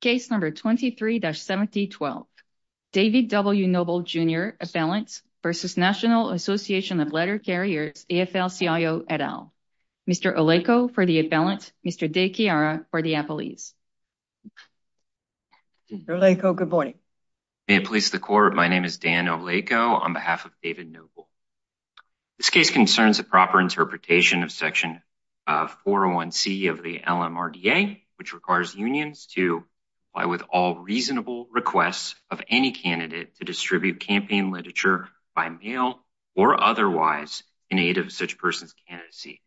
Case number 23-7012, David W. Noble, Jr. Appellant v. National Association of Letter Carriers, AFL-CIO, et al. Mr. Olejko for the appellant, Mr. De Chiara for the appellees. Mr. Olejko, good morning. May it please the Court, my name is Dan Olejko on behalf of David Noble. This case concerns a proper interpretation of Section 401C of the LMRDA, which requires unions to comply with all reasonable requests of any candidate to distribute campaign literature by mail or otherwise in aid of such person's candidacy.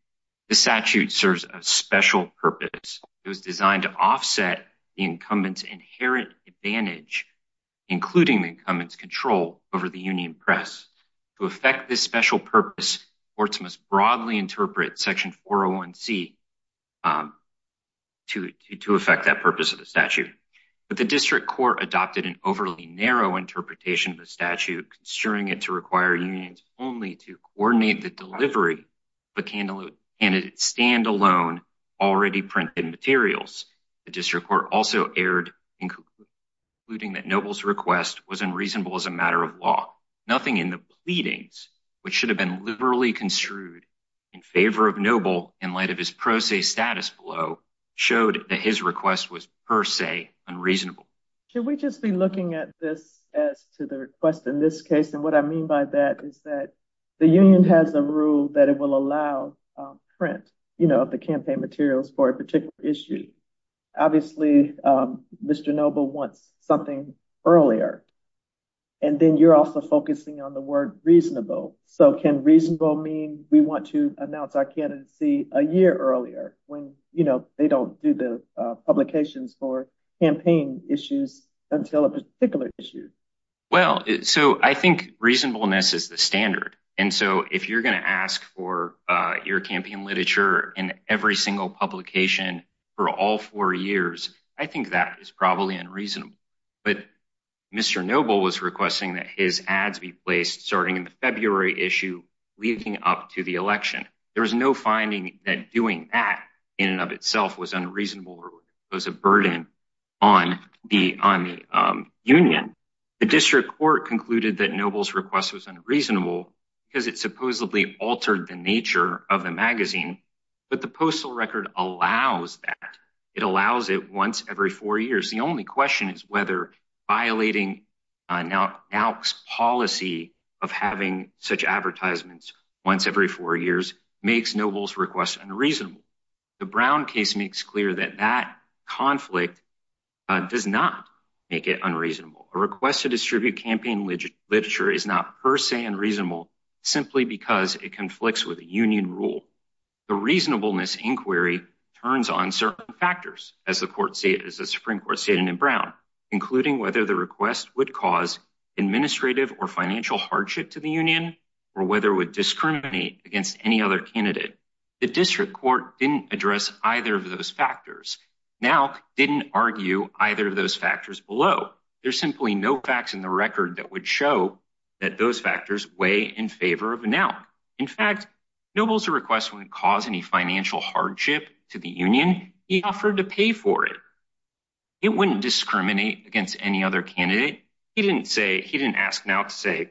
This statute serves a special purpose. It was designed to offset the incumbent's inherent advantage, including the incumbent's control over the union press. To affect this special purpose, courts must broadly interpret Section 401C to affect that purpose of the statute. But the district court adopted an overly narrow interpretation of the statute, considering it to require unions only to coordinate the delivery of a candidate's stand-alone, already printed materials. The district court also erred in concluding that Noble's request was unreasonable as a matter of law. Nothing in the pleadings, which should have been liberally construed in favor of Noble in light of his pro se status below, showed that his request was per se unreasonable. Should we just be looking at this as to the request in this case? And what I mean by that is that the union has a rule that it will allow print of the campaign materials for a particular issue. Obviously, Mr. Noble wants something earlier. And then you're also focusing on the word reasonable. So can reasonable mean we want to announce our candidacy a year earlier when, you know, they don't do the publications for campaign issues until a particular issue? Well, so I think reasonableness is the standard. And so if you're going to ask for your campaign literature in every single publication for all four years, I think that is probably unreasonable. But Mr. Noble was requesting that his ads be placed starting in the February issue leading up to the election. There was no finding that doing that in and of itself was unreasonable or was a burden on the union. The district court concluded that Noble's request was unreasonable because it supposedly altered the nature of the magazine. But the postal record allows that. It allows it once every four years. The only question is whether violating NALC's policy of having such advertisements once every four years makes Noble's request unreasonable. The Brown case makes clear that that conflict does not make it unreasonable. A request to distribute campaign literature is not per se unreasonable simply because it conflicts with a union rule. The reasonableness inquiry turns on certain factors as the Supreme Court stated in Brown, including whether the request would cause administrative or financial hardship to the union or whether it would discriminate against any other candidate. The district court didn't address either of those factors. NALC didn't argue either of those factors below. There's simply no facts in the record that would show that those factors weigh in favor of NALC. In fact, Noble's request wouldn't cause any financial hardship to the union. He offered to pay for it. It wouldn't discriminate against any other candidate. He didn't ask NALC to say,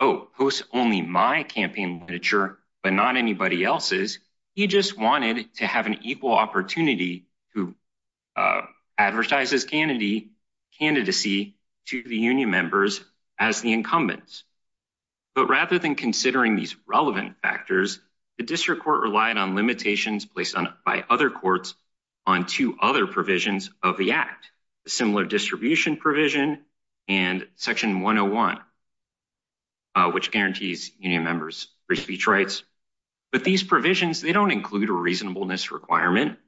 oh, post only my campaign literature but not anybody else's. He just wanted to have an equal opportunity to advertise his candidacy to the union members as the incumbents. But rather than considering these relevant factors, the district court relied on limitations placed on by other courts on two other provisions of the act, similar distribution provision and section 101, which guarantees union members free speech rights. But these provisions, they don't include a reasonableness requirement.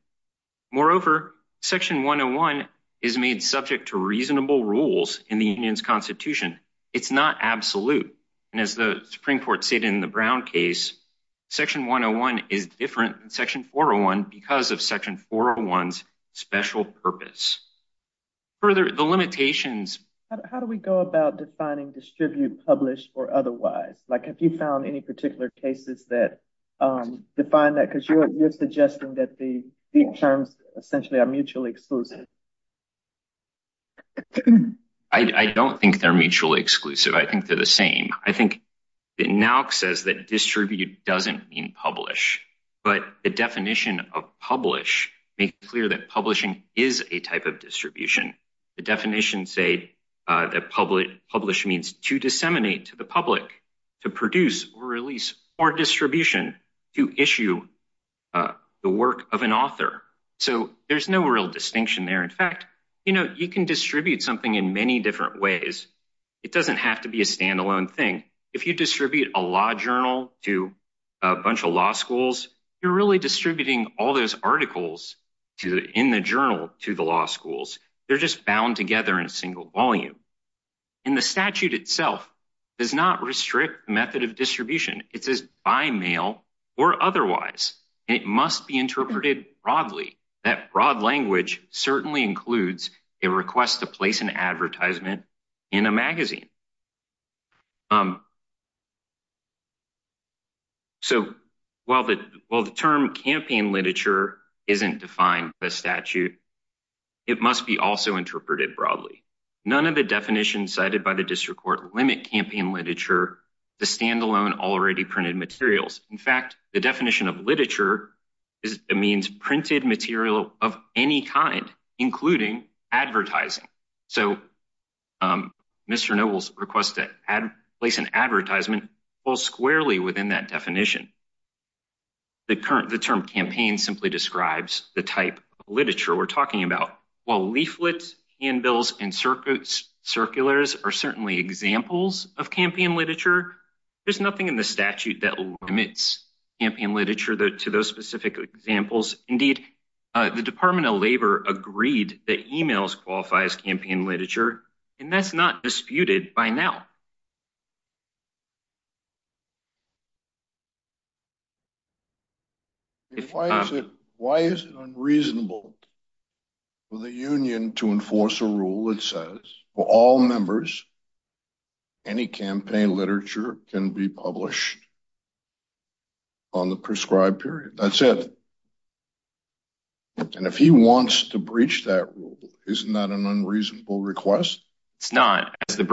Moreover, section 101 is made subject to reasonable rules in the union's constitution. It's not absolute. And as the Supreme Court said in the Brown case, section 101 is different than section 401 because of section 401's special purpose. Further, the limitations. How do we go about defining distribute, publish, or otherwise? Like, have you found any particular cases that define that? Because you're suggesting that the terms essentially are mutually exclusive. I don't think they're mutually exclusive. I think they're the same. I think NALC says that distribute doesn't mean publish. But the definition of publish makes it clear that publishing is a type of distribution. The definitions say that publish means to disseminate to the public, to produce or release, or distribution, to issue the work of an author. So there's no real distinction there. In fact, you know, you can distribute something in many different ways. It doesn't have to be a standalone thing. If you distribute a law journal to a bunch of law schools, you're really distributing all those articles in the journal to the law schools. They're just bound together in a single volume. And the statute itself does not restrict method of distribution. It says by mail or otherwise. It must be interpreted broadly. That broad language certainly includes a request to place an advertisement in a magazine. So while the term campaign literature isn't defined by statute, it must be also interpreted broadly. None of the definitions cited by the district court limit campaign literature to standalone already printed materials. In fact, the definition of literature means printed material of any kind, including advertising. So Mr. Noble's request to place an advertisement falls squarely within that definition. The term campaign simply describes the type of literature we're talking about. While leaflets, handbills, and circulars are certainly examples of campaign literature, there's nothing in the statute that limits campaign literature to those specific examples. Indeed, the Department of Labor agreed that emails qualify as campaign literature, and that's not disputed by now. Why is it unreasonable for the union to enforce a rule that says for all members, any campaign literature can be published on the prescribed period? That's it. And if he wants to breach that rule, isn't that an unreasonable request? It's not. Is the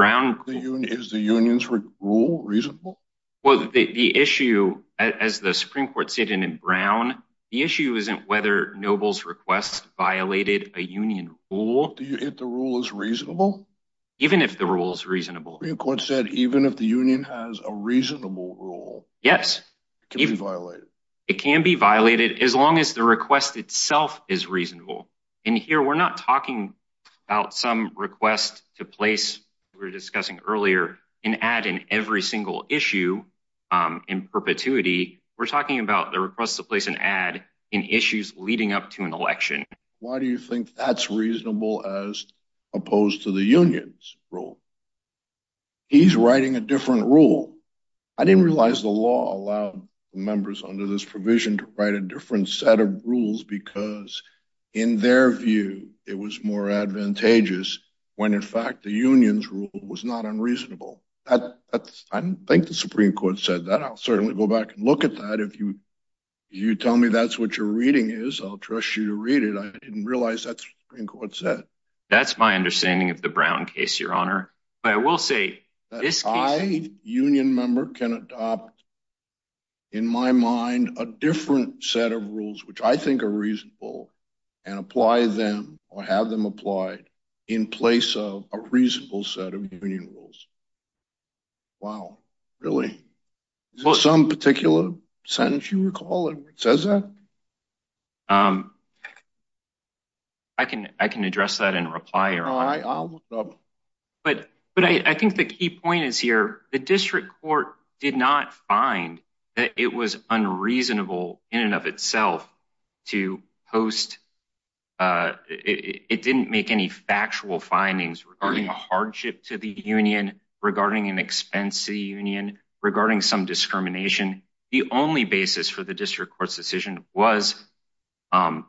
union's rule reasonable? Well, the issue, as the Supreme Court stated in Brown, the issue isn't whether Noble's request violated a union rule. Do you think the rule is reasonable? Even if the rule is reasonable. The Supreme Court said even if the union has a reasonable rule, it can be violated. It can be violated as long as the request itself is reasonable. And here we're not talking about some request to place, we were discussing earlier, an ad in every single issue in perpetuity. We're talking about the request to place an ad in issues leading up to an election. Why do you think that's reasonable as opposed to the union's rule? He's writing a different rule. I didn't realize the law allowed members under this provision to write a different set of rules because, in their view, it was more advantageous when, in fact, the union's rule was not unreasonable. I think the Supreme Court said that. I'll certainly go back and look at that. If you tell me that's what your reading is, I'll trust you to read it. I didn't realize that's what the Supreme Court said. That's my understanding of the Brown case, Your Honor. I, as a union member, can adopt, in my mind, a different set of rules which I think are reasonable and apply them or have them applied in place of a reasonable set of union rules. Wow, really? Is there some particular sentence you recall that says that? But I think the key point is here. The district court did not find that it was unreasonable in and of itself to post. It didn't make any factual findings regarding a hardship to the union, regarding an expense to the union, regarding some discrimination. The only basis for the district court's decision was on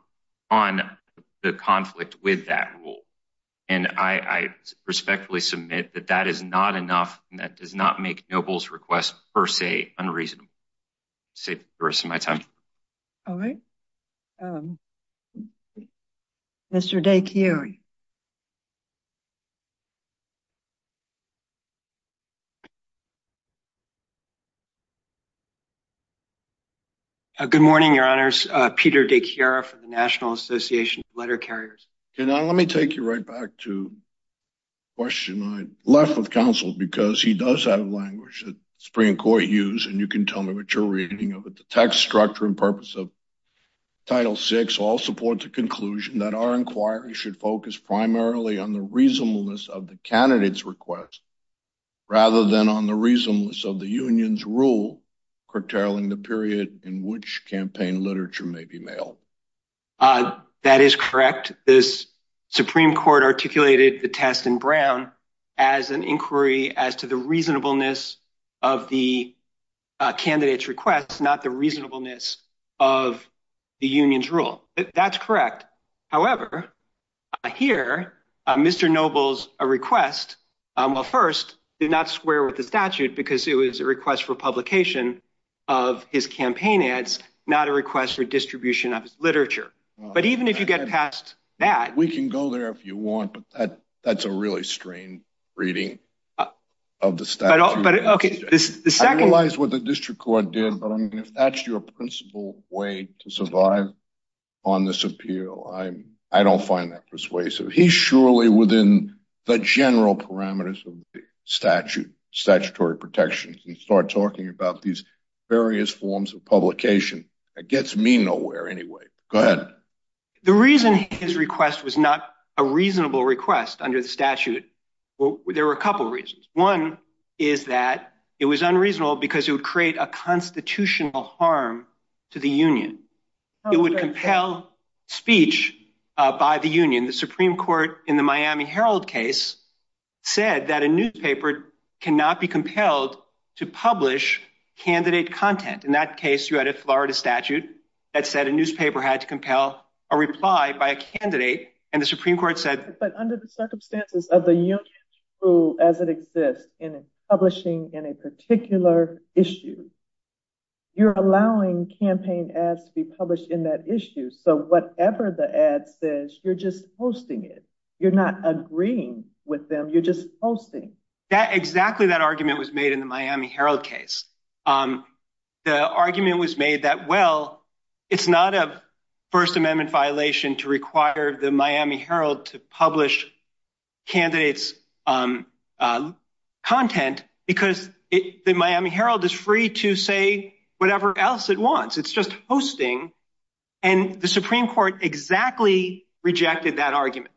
the conflict with that rule. And I respectfully submit that that is not enough and that does not make Noble's request, per se, unreasonable. I'll save the rest of my time. All right. Mr. Day-Kiyori. Good morning, Your Honors. Peter Day-Kiyori from the National Association of Letter Carriers. Okay, now let me take you right back to the question I left with counsel because he does have language that the Supreme Court used, and you can tell me what you're reading of it. The text structure and purpose of Title VI all support the conclusion that our inquiry should focus primarily on the reasonableness of the candidate's request rather than on the reasonableness of the union's rule curtailing the period in which campaign literature may be mailed. That is correct. The Supreme Court articulated the test in Brown as an inquiry as to the reasonableness of the candidate's request, not the reasonableness of the union's rule. That's correct. However, here, Mr. Noble's request, well, first, did not square with the statute because it was a request for publication of his campaign ads, not a request for distribution of his literature. But even if you get past that. We can go there if you want, but that's a really strange reading of the statute. I realize what the district court did, but if that's your principal way to survive on this appeal, I don't find that persuasive. He's surely within the general parameters of the statute, statutory protections, and start talking about these various forms of publication. It gets me nowhere anyway. Go ahead. The reason his request was not a reasonable request under the statute, there were a couple of reasons. One is that it was unreasonable because it would create a constitutional harm to the union. It would compel speech by the union. The Supreme Court in the Miami Herald case said that a newspaper cannot be compelled to publish candidate content. In that case, you had a Florida statute that said a newspaper had to compel a reply by a candidate. But under the circumstances of the union's rule as it exists in publishing in a particular issue, you're allowing campaign ads to be published in that issue. So whatever the ad says, you're just posting it. You're not agreeing with them. You're just posting. Exactly that argument was made in the Miami Herald case. The argument was made that, well, it's not a First Amendment violation to require the Miami Herald to publish candidates' content because the Miami Herald is free to say whatever else it wants. It's just hosting. And the Supreme Court exactly rejected that argument.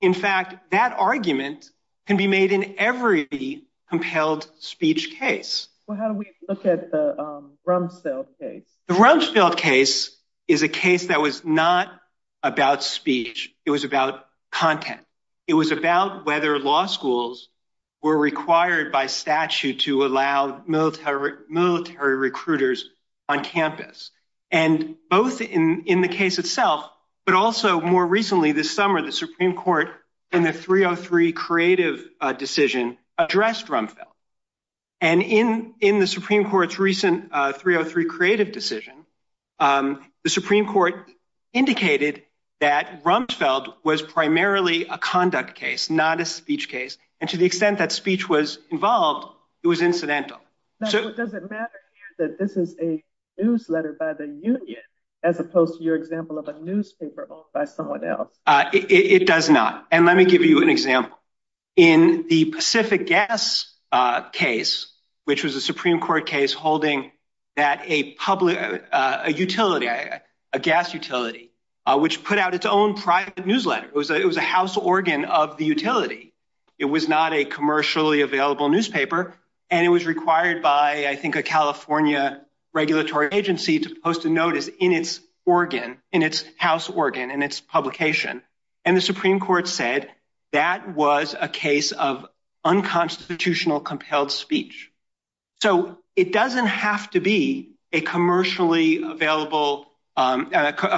In fact, that argument can be made in every compelled speech case. Well, how do we look at the Rumsfeld case? The Rumsfeld case is a case that was not about speech. It was about content. It was about whether law schools were required by statute to allow military recruiters on campus. And both in the case itself, but also more recently this summer, the Supreme Court in the 303 creative decision addressed Rumsfeld. And in the Supreme Court's recent 303 creative decision, the Supreme Court indicated that Rumsfeld was primarily a conduct case, not a speech case. And to the extent that speech was involved, it was incidental. Does it matter that this is a newsletter by the union as opposed to your example of a newspaper owned by someone else? It does not. And let me give you an example. In the Pacific Gas case, which was a Supreme Court case holding that a public utility, a gas utility, which put out its own private newsletter, it was a house organ of the utility. It was not a commercially available newspaper. And it was required by, I think, a California regulatory agency to post a notice in its organ, in its house organ and its publication. And the Supreme Court said that was a case of unconstitutional compelled speech. So it doesn't have to be a commercially available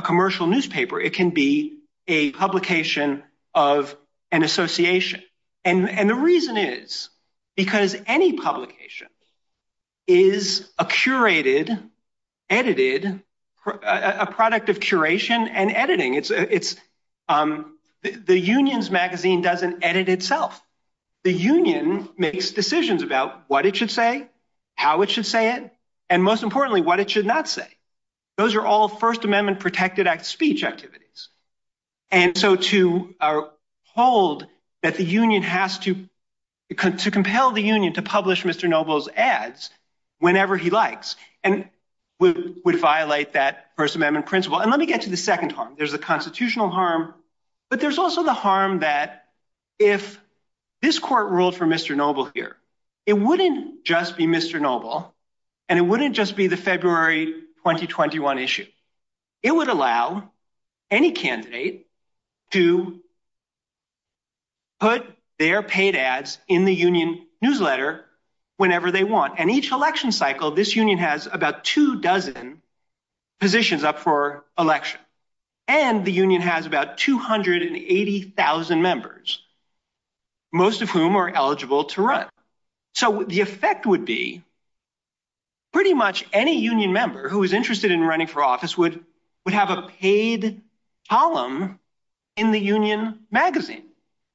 commercial newspaper. It can be a publication of an association. And the reason is because any publication is a curated, edited, a product of curation and editing. It's the union's magazine doesn't edit itself. The union makes decisions about what it should say, how it should say it, and most importantly, what it should not say. Those are all First Amendment protected act speech activities. And so to our hold that the union has to come to compel the union to publish Mr. Noble's ads whenever he likes and would violate that First Amendment principle. And let me get to the second harm. There's a constitutional harm. But there's also the harm that if this court ruled for Mr. Noble here, it wouldn't just be Mr. Noble and it wouldn't just be the February 2021 issue. It would allow any candidate to. Put their paid ads in the union newsletter whenever they want. And each election cycle, this union has about two dozen positions up for election. And the union has about two hundred and eighty thousand members. Most of whom are eligible to run. So the effect would be. Pretty much any union member who is interested in running for office would would have a paid column in the union magazine.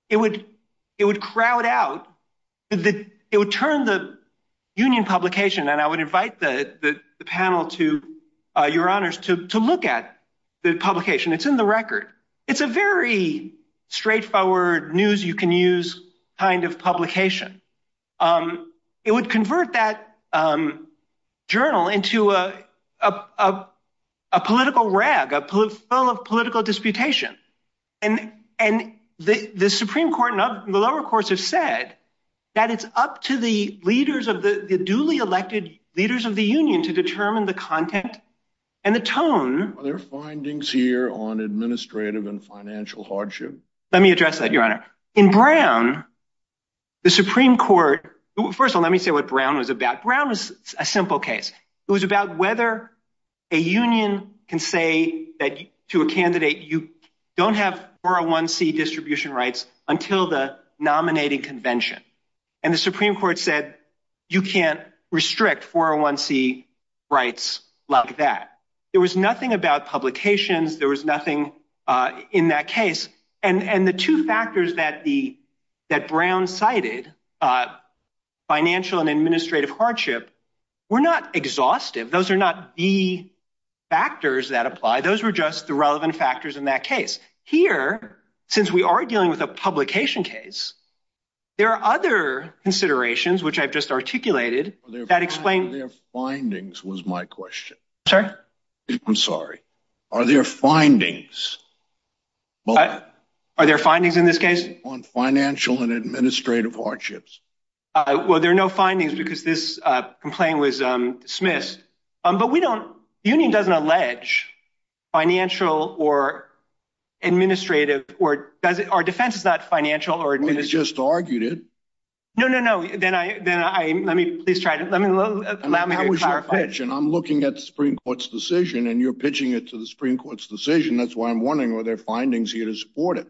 It would it would crowd out that it would turn the union publication. And I would invite the panel to your honors to look at the publication. It's in the record. It's a very straightforward news. You can use kind of publication. It would convert that journal into a political rag, a political of political disputation. And and the Supreme Court and the lower courts have said that it's up to the leaders of the duly elected leaders of the union to determine the content and the tone. Their findings here on administrative and financial hardship. Let me address that, Your Honor. In Brown, the Supreme Court. First of all, let me say what Brown was about. Brown is a simple case. It was about whether a union can say that to a candidate you don't have 401C distribution rights until the nominating convention. And the Supreme Court said you can't restrict 401C rights like that. There was nothing about publications. There was nothing in that case. And the two factors that the that Brown cited financial and administrative hardship were not exhaustive. Those are not the factors that apply. Those were just the relevant factors in that case. Here, since we are dealing with a publication case, there are other considerations which I've just articulated that explain their findings was my question. Sir, I'm sorry. Are there findings? Are there findings in this case on financial and administrative hardships? Well, there are no findings because this complaint was dismissed. But we don't union doesn't allege financial or administrative or does it? Our defense is not financial or just argued it. No, no, no. Then I then I mean, please try to let me clarify. And I'm looking at the Supreme Court's decision and you're pitching it to the Supreme Court's decision. That's why I'm wondering, are there findings here to support it?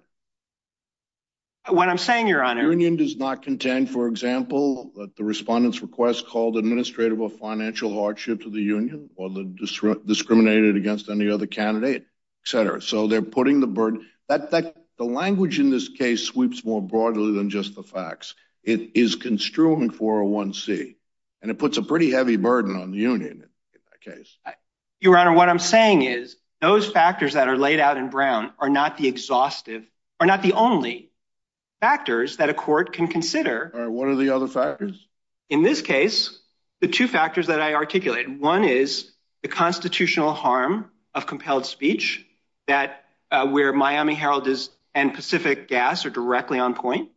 What I'm saying, your honor, union does not contend, for example, that the respondents request called administrative or financial hardship to the union or the district discriminated against any other candidate, etc. So they're putting the burden that the language in this case sweeps more broadly than just the facts. It is construing for a one C and it puts a pretty heavy burden on the union case. Your honor, what I'm saying is those factors that are laid out in Brown are not the exhaustive are not the only factors that a court can consider. What are the other factors in this case? The two factors that I articulate? One is the constitutional harm of compelled speech that where Miami Herald is and Pacific Gas are directly on point.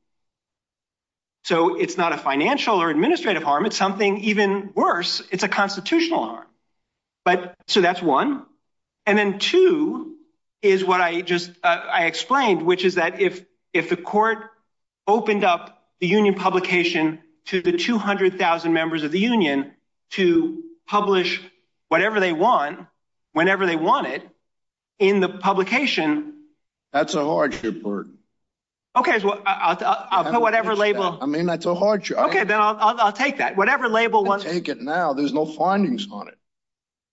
So it's not a financial or administrative harm. It's something even worse. It's a constitutional harm. But so that's one. And then two is what I just I explained, which is that if if the court opened up the union publication to the two hundred thousand members of the union to publish whatever they want, whenever they want it in the publication, that's a hardship. OK, I'll put whatever label. I mean, that's a hardship. OK, then I'll take that whatever label. Take it now. There's no findings on it.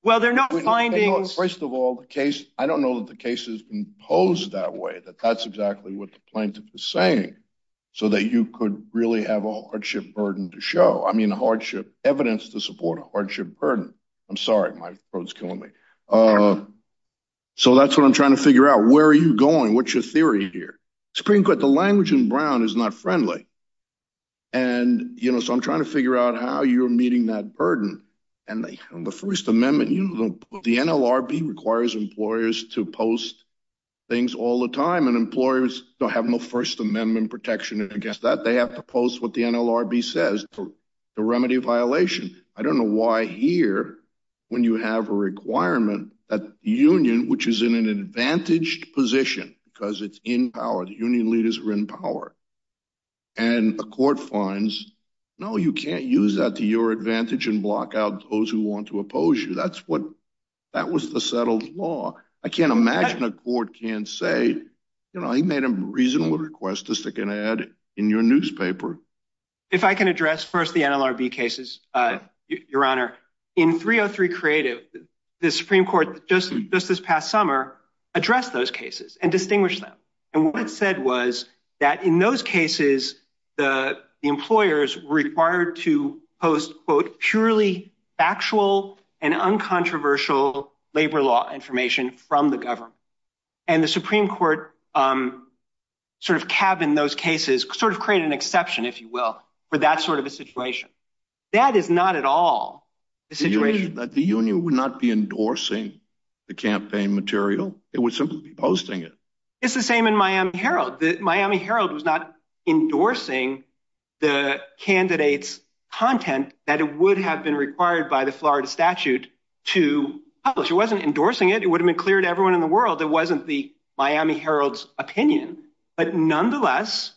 Well, there are no findings. First of all, the case. I don't know that the case has been posed that way, that that's exactly what the plaintiff is saying so that you could really have a hardship burden to show. I mean, a hardship evidence to support a hardship burden. I'm sorry. My throat's killing me. So that's what I'm trying to figure out. Where are you going? What's your theory here? It's pretty good. The language in Brown is not friendly. And, you know, so I'm trying to figure out how you're meeting that burden. And the First Amendment, you know, the NLRB requires employers to post things all the time and employers don't have no First Amendment protection against that. They have to post what the NLRB says the remedy violation. I don't know why here when you have a requirement that the union, which is in an advantaged position because it's in power, the union leaders are in power. And a court finds, no, you can't use that to your advantage and block out those who want to oppose you. That's what that was, the settled law. I can't imagine a court can say, you know, he made a reasonable request to stick an ad in your newspaper. If I can address first the NLRB cases, Your Honor, in 303 Creative, the Supreme Court just this past summer addressed those cases and distinguished them. And what it said was that in those cases, the employers required to post, quote, purely factual and uncontroversial labor law information from the government. And the Supreme Court sort of cab in those cases sort of create an exception, if you will, for that sort of a situation. That is not at all the situation that the union would not be endorsing the campaign material. It would simply be posting it. It's the same in Miami Herald. The Miami Herald was not endorsing the candidates content that it would have been required by the Florida statute to publish. It wasn't endorsing it. It would have been clear to everyone in the world. It wasn't the Miami Herald's opinion. But nonetheless,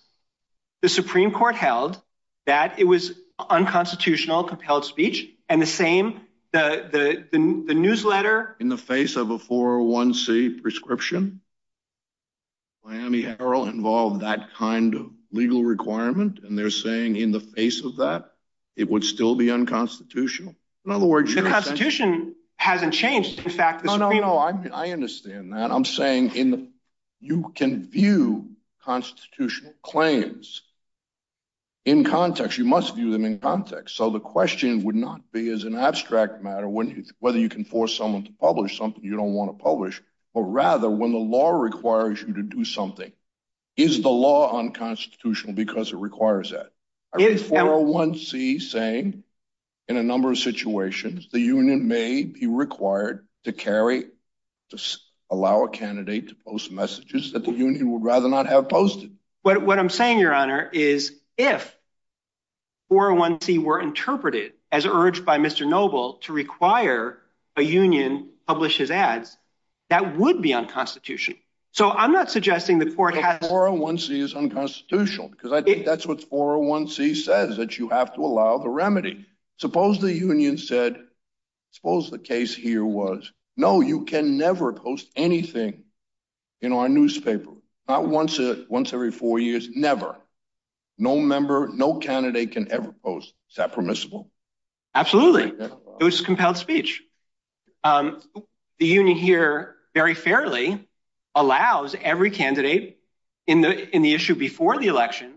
the Supreme Court held that it was unconstitutional, compelled speech. And the same the newsletter in the face of a 401C prescription. Miami Herald involved that kind of legal requirement, and they're saying in the face of that, it would still be unconstitutional. In other words, the Constitution hasn't changed. I understand that. I'm saying you can view constitutional claims in context. You must view them in context. So the question would not be as an abstract matter whether you can force someone to publish something you don't want to publish. Or rather, when the law requires you to do something, is the law unconstitutional because it requires that? 401C saying in a number of situations, the union may be required to carry to allow a candidate to post messages that the union would rather not have posted. But what I'm saying, Your Honor, is if. 401C were interpreted as urged by Mr. Noble to require a union publishes ads that would be unconstitutional. So I'm not suggesting the court has 401C is unconstitutional because I think that's what 401C says that you have to allow the remedy. Suppose the union said, suppose the case here was, no, you can never post anything in our newspaper. Not once, once every four years. Never. No member, no candidate can ever post. Is that permissible? Absolutely. It was compelled speech. The union here very fairly allows every candidate in the in the issue before the election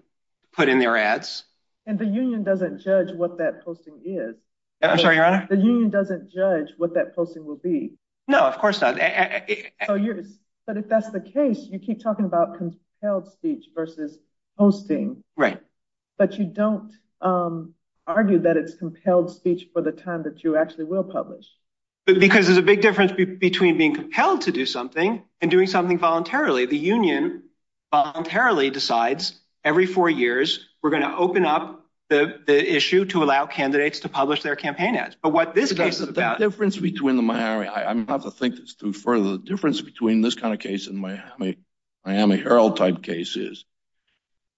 put in their ads. And the union doesn't judge what that posting is. I'm sorry, Your Honor. The union doesn't judge what that posting will be. No, of course not. But if that's the case, you keep talking about compelled speech versus posting. Right. But you don't argue that it's compelled speech for the time that you actually will publish. Because there's a big difference between being compelled to do something and doing something voluntarily. The union voluntarily decides every four years we're going to open up the issue to allow candidates to publish their campaign ads. The difference between the Miami, I have to think this through further. The difference between this kind of case in Miami, Miami Herald type cases,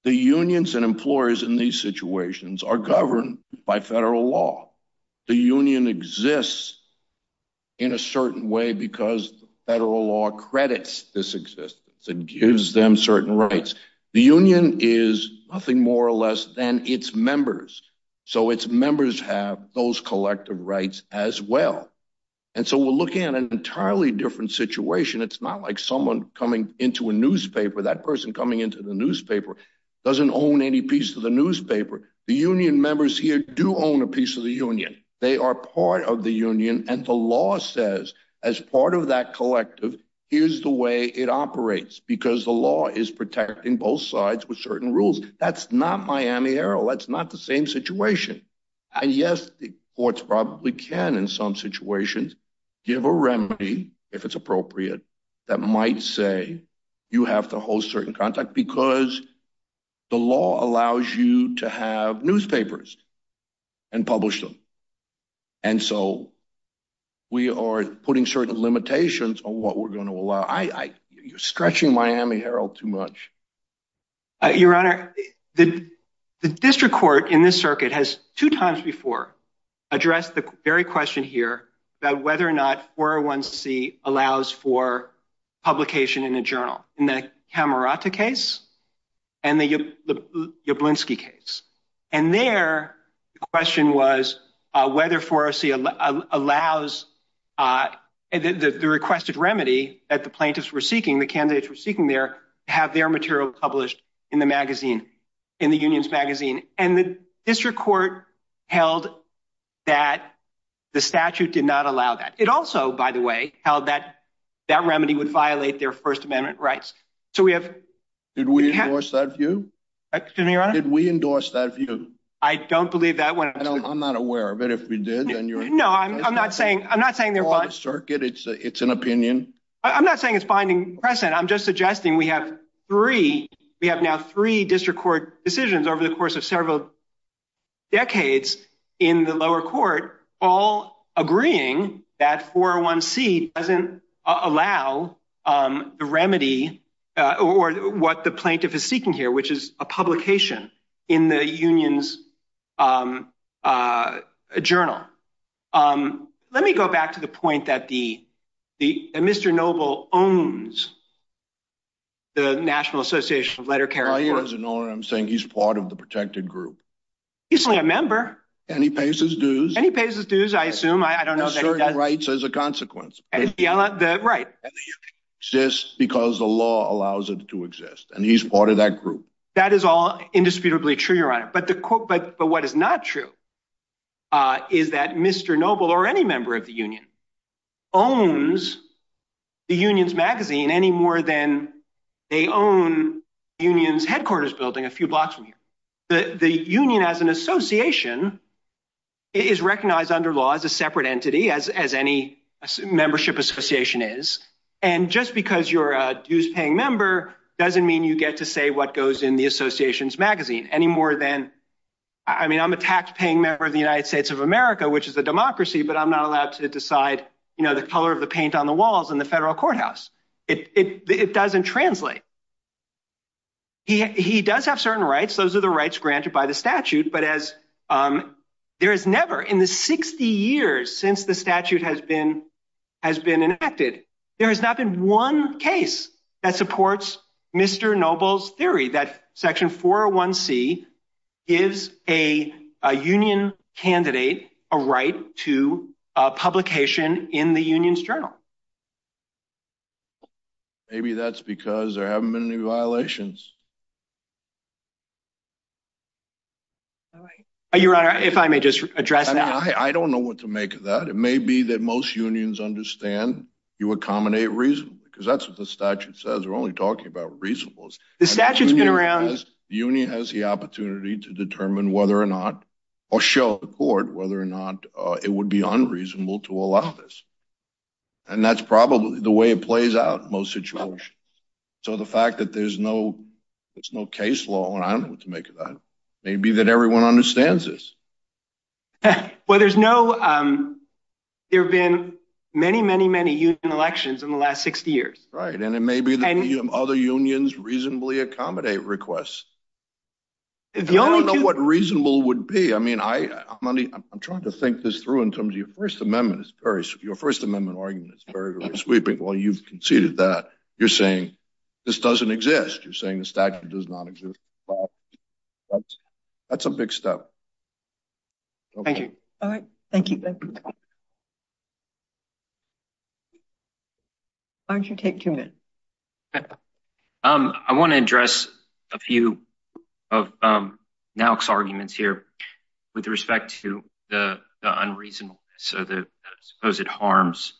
the unions and employers in these situations are governed by federal law. The union exists in a certain way because federal law credits this existence and gives them certain rights. The union is nothing more or less than its members. So its members have those collective rights as well. And so we're looking at an entirely different situation. It's not like someone coming into a newspaper, that person coming into the newspaper doesn't own any piece of the newspaper. The union members here do own a piece of the union. They are part of the union. And the law says as part of that collective, here's the way it operates, because the law is protecting both sides with certain rules. That's not Miami Herald. That's not the same situation. And yes, the courts probably can in some situations give a remedy, if it's appropriate, that might say you have to hold certain contact because the law allows you to have newspapers and publish them. And so we are putting certain limitations on what we're going to allow. You're stretching Miami Herald too much. Your Honor, the district court in this circuit has two times before addressed the very question here about whether or not 401C allows for publication in a journal in the Camerata case and the Jablonski case. And their question was whether 401C allows the requested remedy that the plaintiffs were seeking, the candidates were seeking there, to have their material published in the magazine, in the union's magazine. And the district court held that the statute did not allow that. It also, by the way, held that that remedy would violate their First Amendment rights. So we have. Did we endorse that view? Excuse me, Your Honor? Did we endorse that view? I don't believe that one. I'm not aware of it. If we did, then you're. No, I'm not saying. I'm not saying they're. It's an opinion. I'm not saying it's finding precedent. I'm just suggesting we have three. We have now three district court decisions over the course of several decades in the lower court, all agreeing that 401C doesn't allow the remedy or what the plaintiff is seeking here, which is a publication in the union's journal. Let me go back to the point that Mr. Noble owns the National Association of Letter Carriers. I'm saying he's part of the protected group. He's only a member. And he pays his dues. And he pays his dues, I assume. I don't know that he does. And certain rights as a consequence. Right. And the union exists because the law allows it to exist. That is all indisputably true, Your Honor. But what is not true is that Mr. Noble or any member of the union owns the union's magazine any more than they own union's headquarters building a few blocks from here. The union as an association is recognized under law as a separate entity, as any membership association is. And just because you're a dues paying member doesn't mean you get to say what goes in the association's magazine any more than I mean, I'm a tax paying member of the United States of America, which is a democracy. But I'm not allowed to decide, you know, the color of the paint on the walls in the federal courthouse. It doesn't translate. He does have certain rights. Those are the rights granted by the statute. But as there is never in the 60 years since the statute has been has been enacted, there has not been one case that supports Mr. Noble's theory that Section 401C is a union candidate, a right to publication in the union's journal. Maybe that's because there haven't been any violations. Your Honor, if I may just address that. I don't know what to make of that. It may be that most unions understand you accommodate reason, because that's what the statute says. We're only talking about reasonableness. The statute's been around. The union has the opportunity to determine whether or not or show the court whether or not it would be unreasonable to allow this. And that's probably the way it plays out in most situations. So the fact that there's no there's no case law, and I don't know what to make of that, may be that everyone understands this. Well, there's no there have been many, many, many elections in the last 60 years. Right. And it may be that other unions reasonably accommodate requests. If you don't know what reasonable would be. I mean, I money. I'm trying to think this through in terms of your First Amendment. It's very your First Amendment argument. It's very sweeping. Well, you've conceded that you're saying this doesn't exist. You're saying the statute does not exist. That's a big step. Thank you. All right. Thank you. Why don't you take two minutes? I want to address a few of now arguments here with respect to the unreasonable. So the supposed harms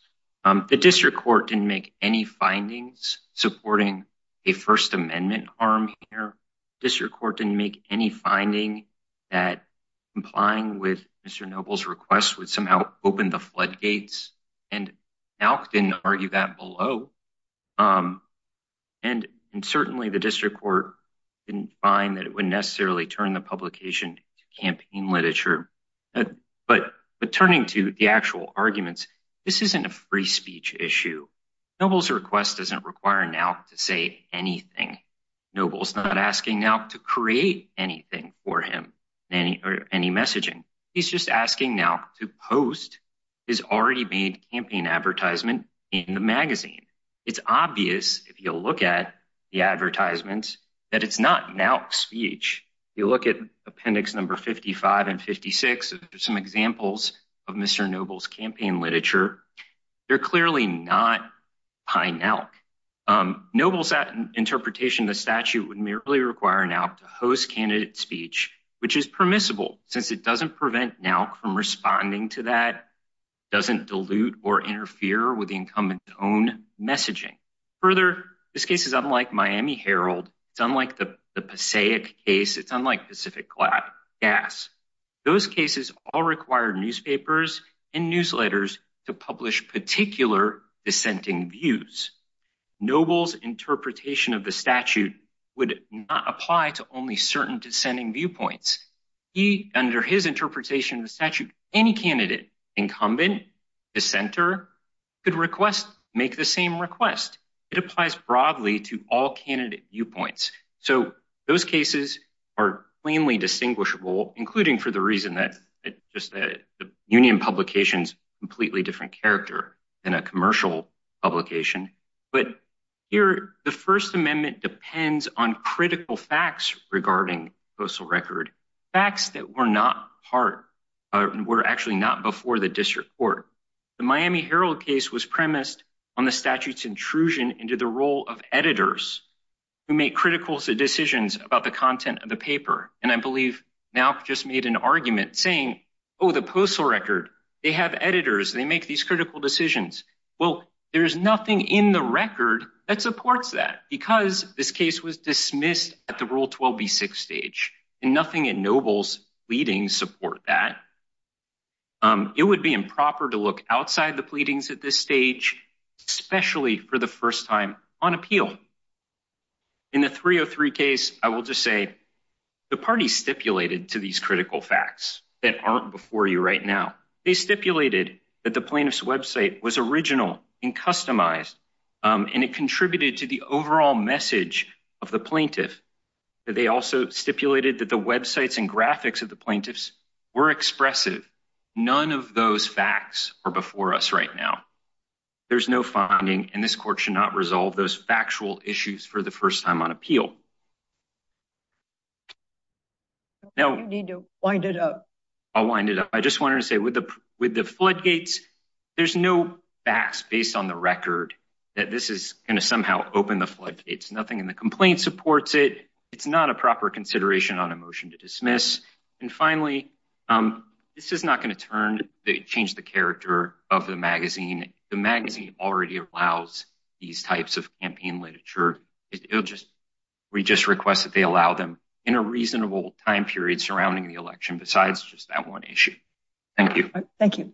the district court didn't make any findings supporting a First Amendment arm here. This record didn't make any finding that implying with Mr. Noble's request would somehow open the floodgates. And now didn't argue that below. And and certainly the district court didn't find that it would necessarily turn the publication campaign literature. But but turning to the actual arguments, this isn't a free speech issue. Noble's request doesn't require now to say anything. Noble's not asking now to create anything for him or any messaging. He's just asking now to post is already made campaign advertisement in the magazine. It's obvious if you look at the advertisements that it's not now speech. You look at appendix number fifty five and fifty six. There's some examples of Mr. Noble's campaign literature. They're clearly not pine elk. Noble's interpretation. The statute would merely require now to host candidate speech, which is permissible since it doesn't prevent now from responding to that doesn't dilute or interfere with the incumbent own messaging. Further, this case is unlike Miami Herald. It's unlike the the case. It's unlike Pacific Glass. Those cases all require newspapers and newsletters to publish particular dissenting views. Noble's interpretation of the statute would not apply to only certain dissenting viewpoints. He under his interpretation of the statute, any candidate incumbent dissenter could request make the same request. It applies broadly to all candidate viewpoints. So those cases are plainly distinguishable, including for the reason that just the union publications completely different character than a commercial publication. But here, the First Amendment depends on critical facts regarding postal record facts that were not part were actually not before the district court. The Miami Herald case was premised on the statute's intrusion into the role of editors who make critical decisions about the content of the paper. And I believe now just made an argument saying, oh, the postal record, they have editors. They make these critical decisions. Well, there is nothing in the record that supports that because this case was dismissed at the rule 12B6 stage and nothing in Noble's leading support that. It would be improper to look outside the pleadings at this stage, especially for the first time on appeal. In the 303 case, I will just say the party stipulated to these critical facts that aren't before you right now. They stipulated that the plaintiff's website was original and customized, and it contributed to the overall message of the plaintiff. They also stipulated that the websites and graphics of the plaintiffs were expressive. None of those facts are before us right now. There's no funding, and this court should not resolve those factual issues for the first time on appeal. No need to wind it up. I'll wind it up. I just wanted to say with the with the floodgates, there's no facts based on the record that this is going to somehow open the floodgates. Nothing in the complaint supports it. It's not a proper consideration on a motion to dismiss. And finally, this is not going to change the character of the magazine. The magazine already allows these types of campaign literature. We just request that they allow them in a reasonable time period surrounding the election besides just that one issue. Thank you. Thank you.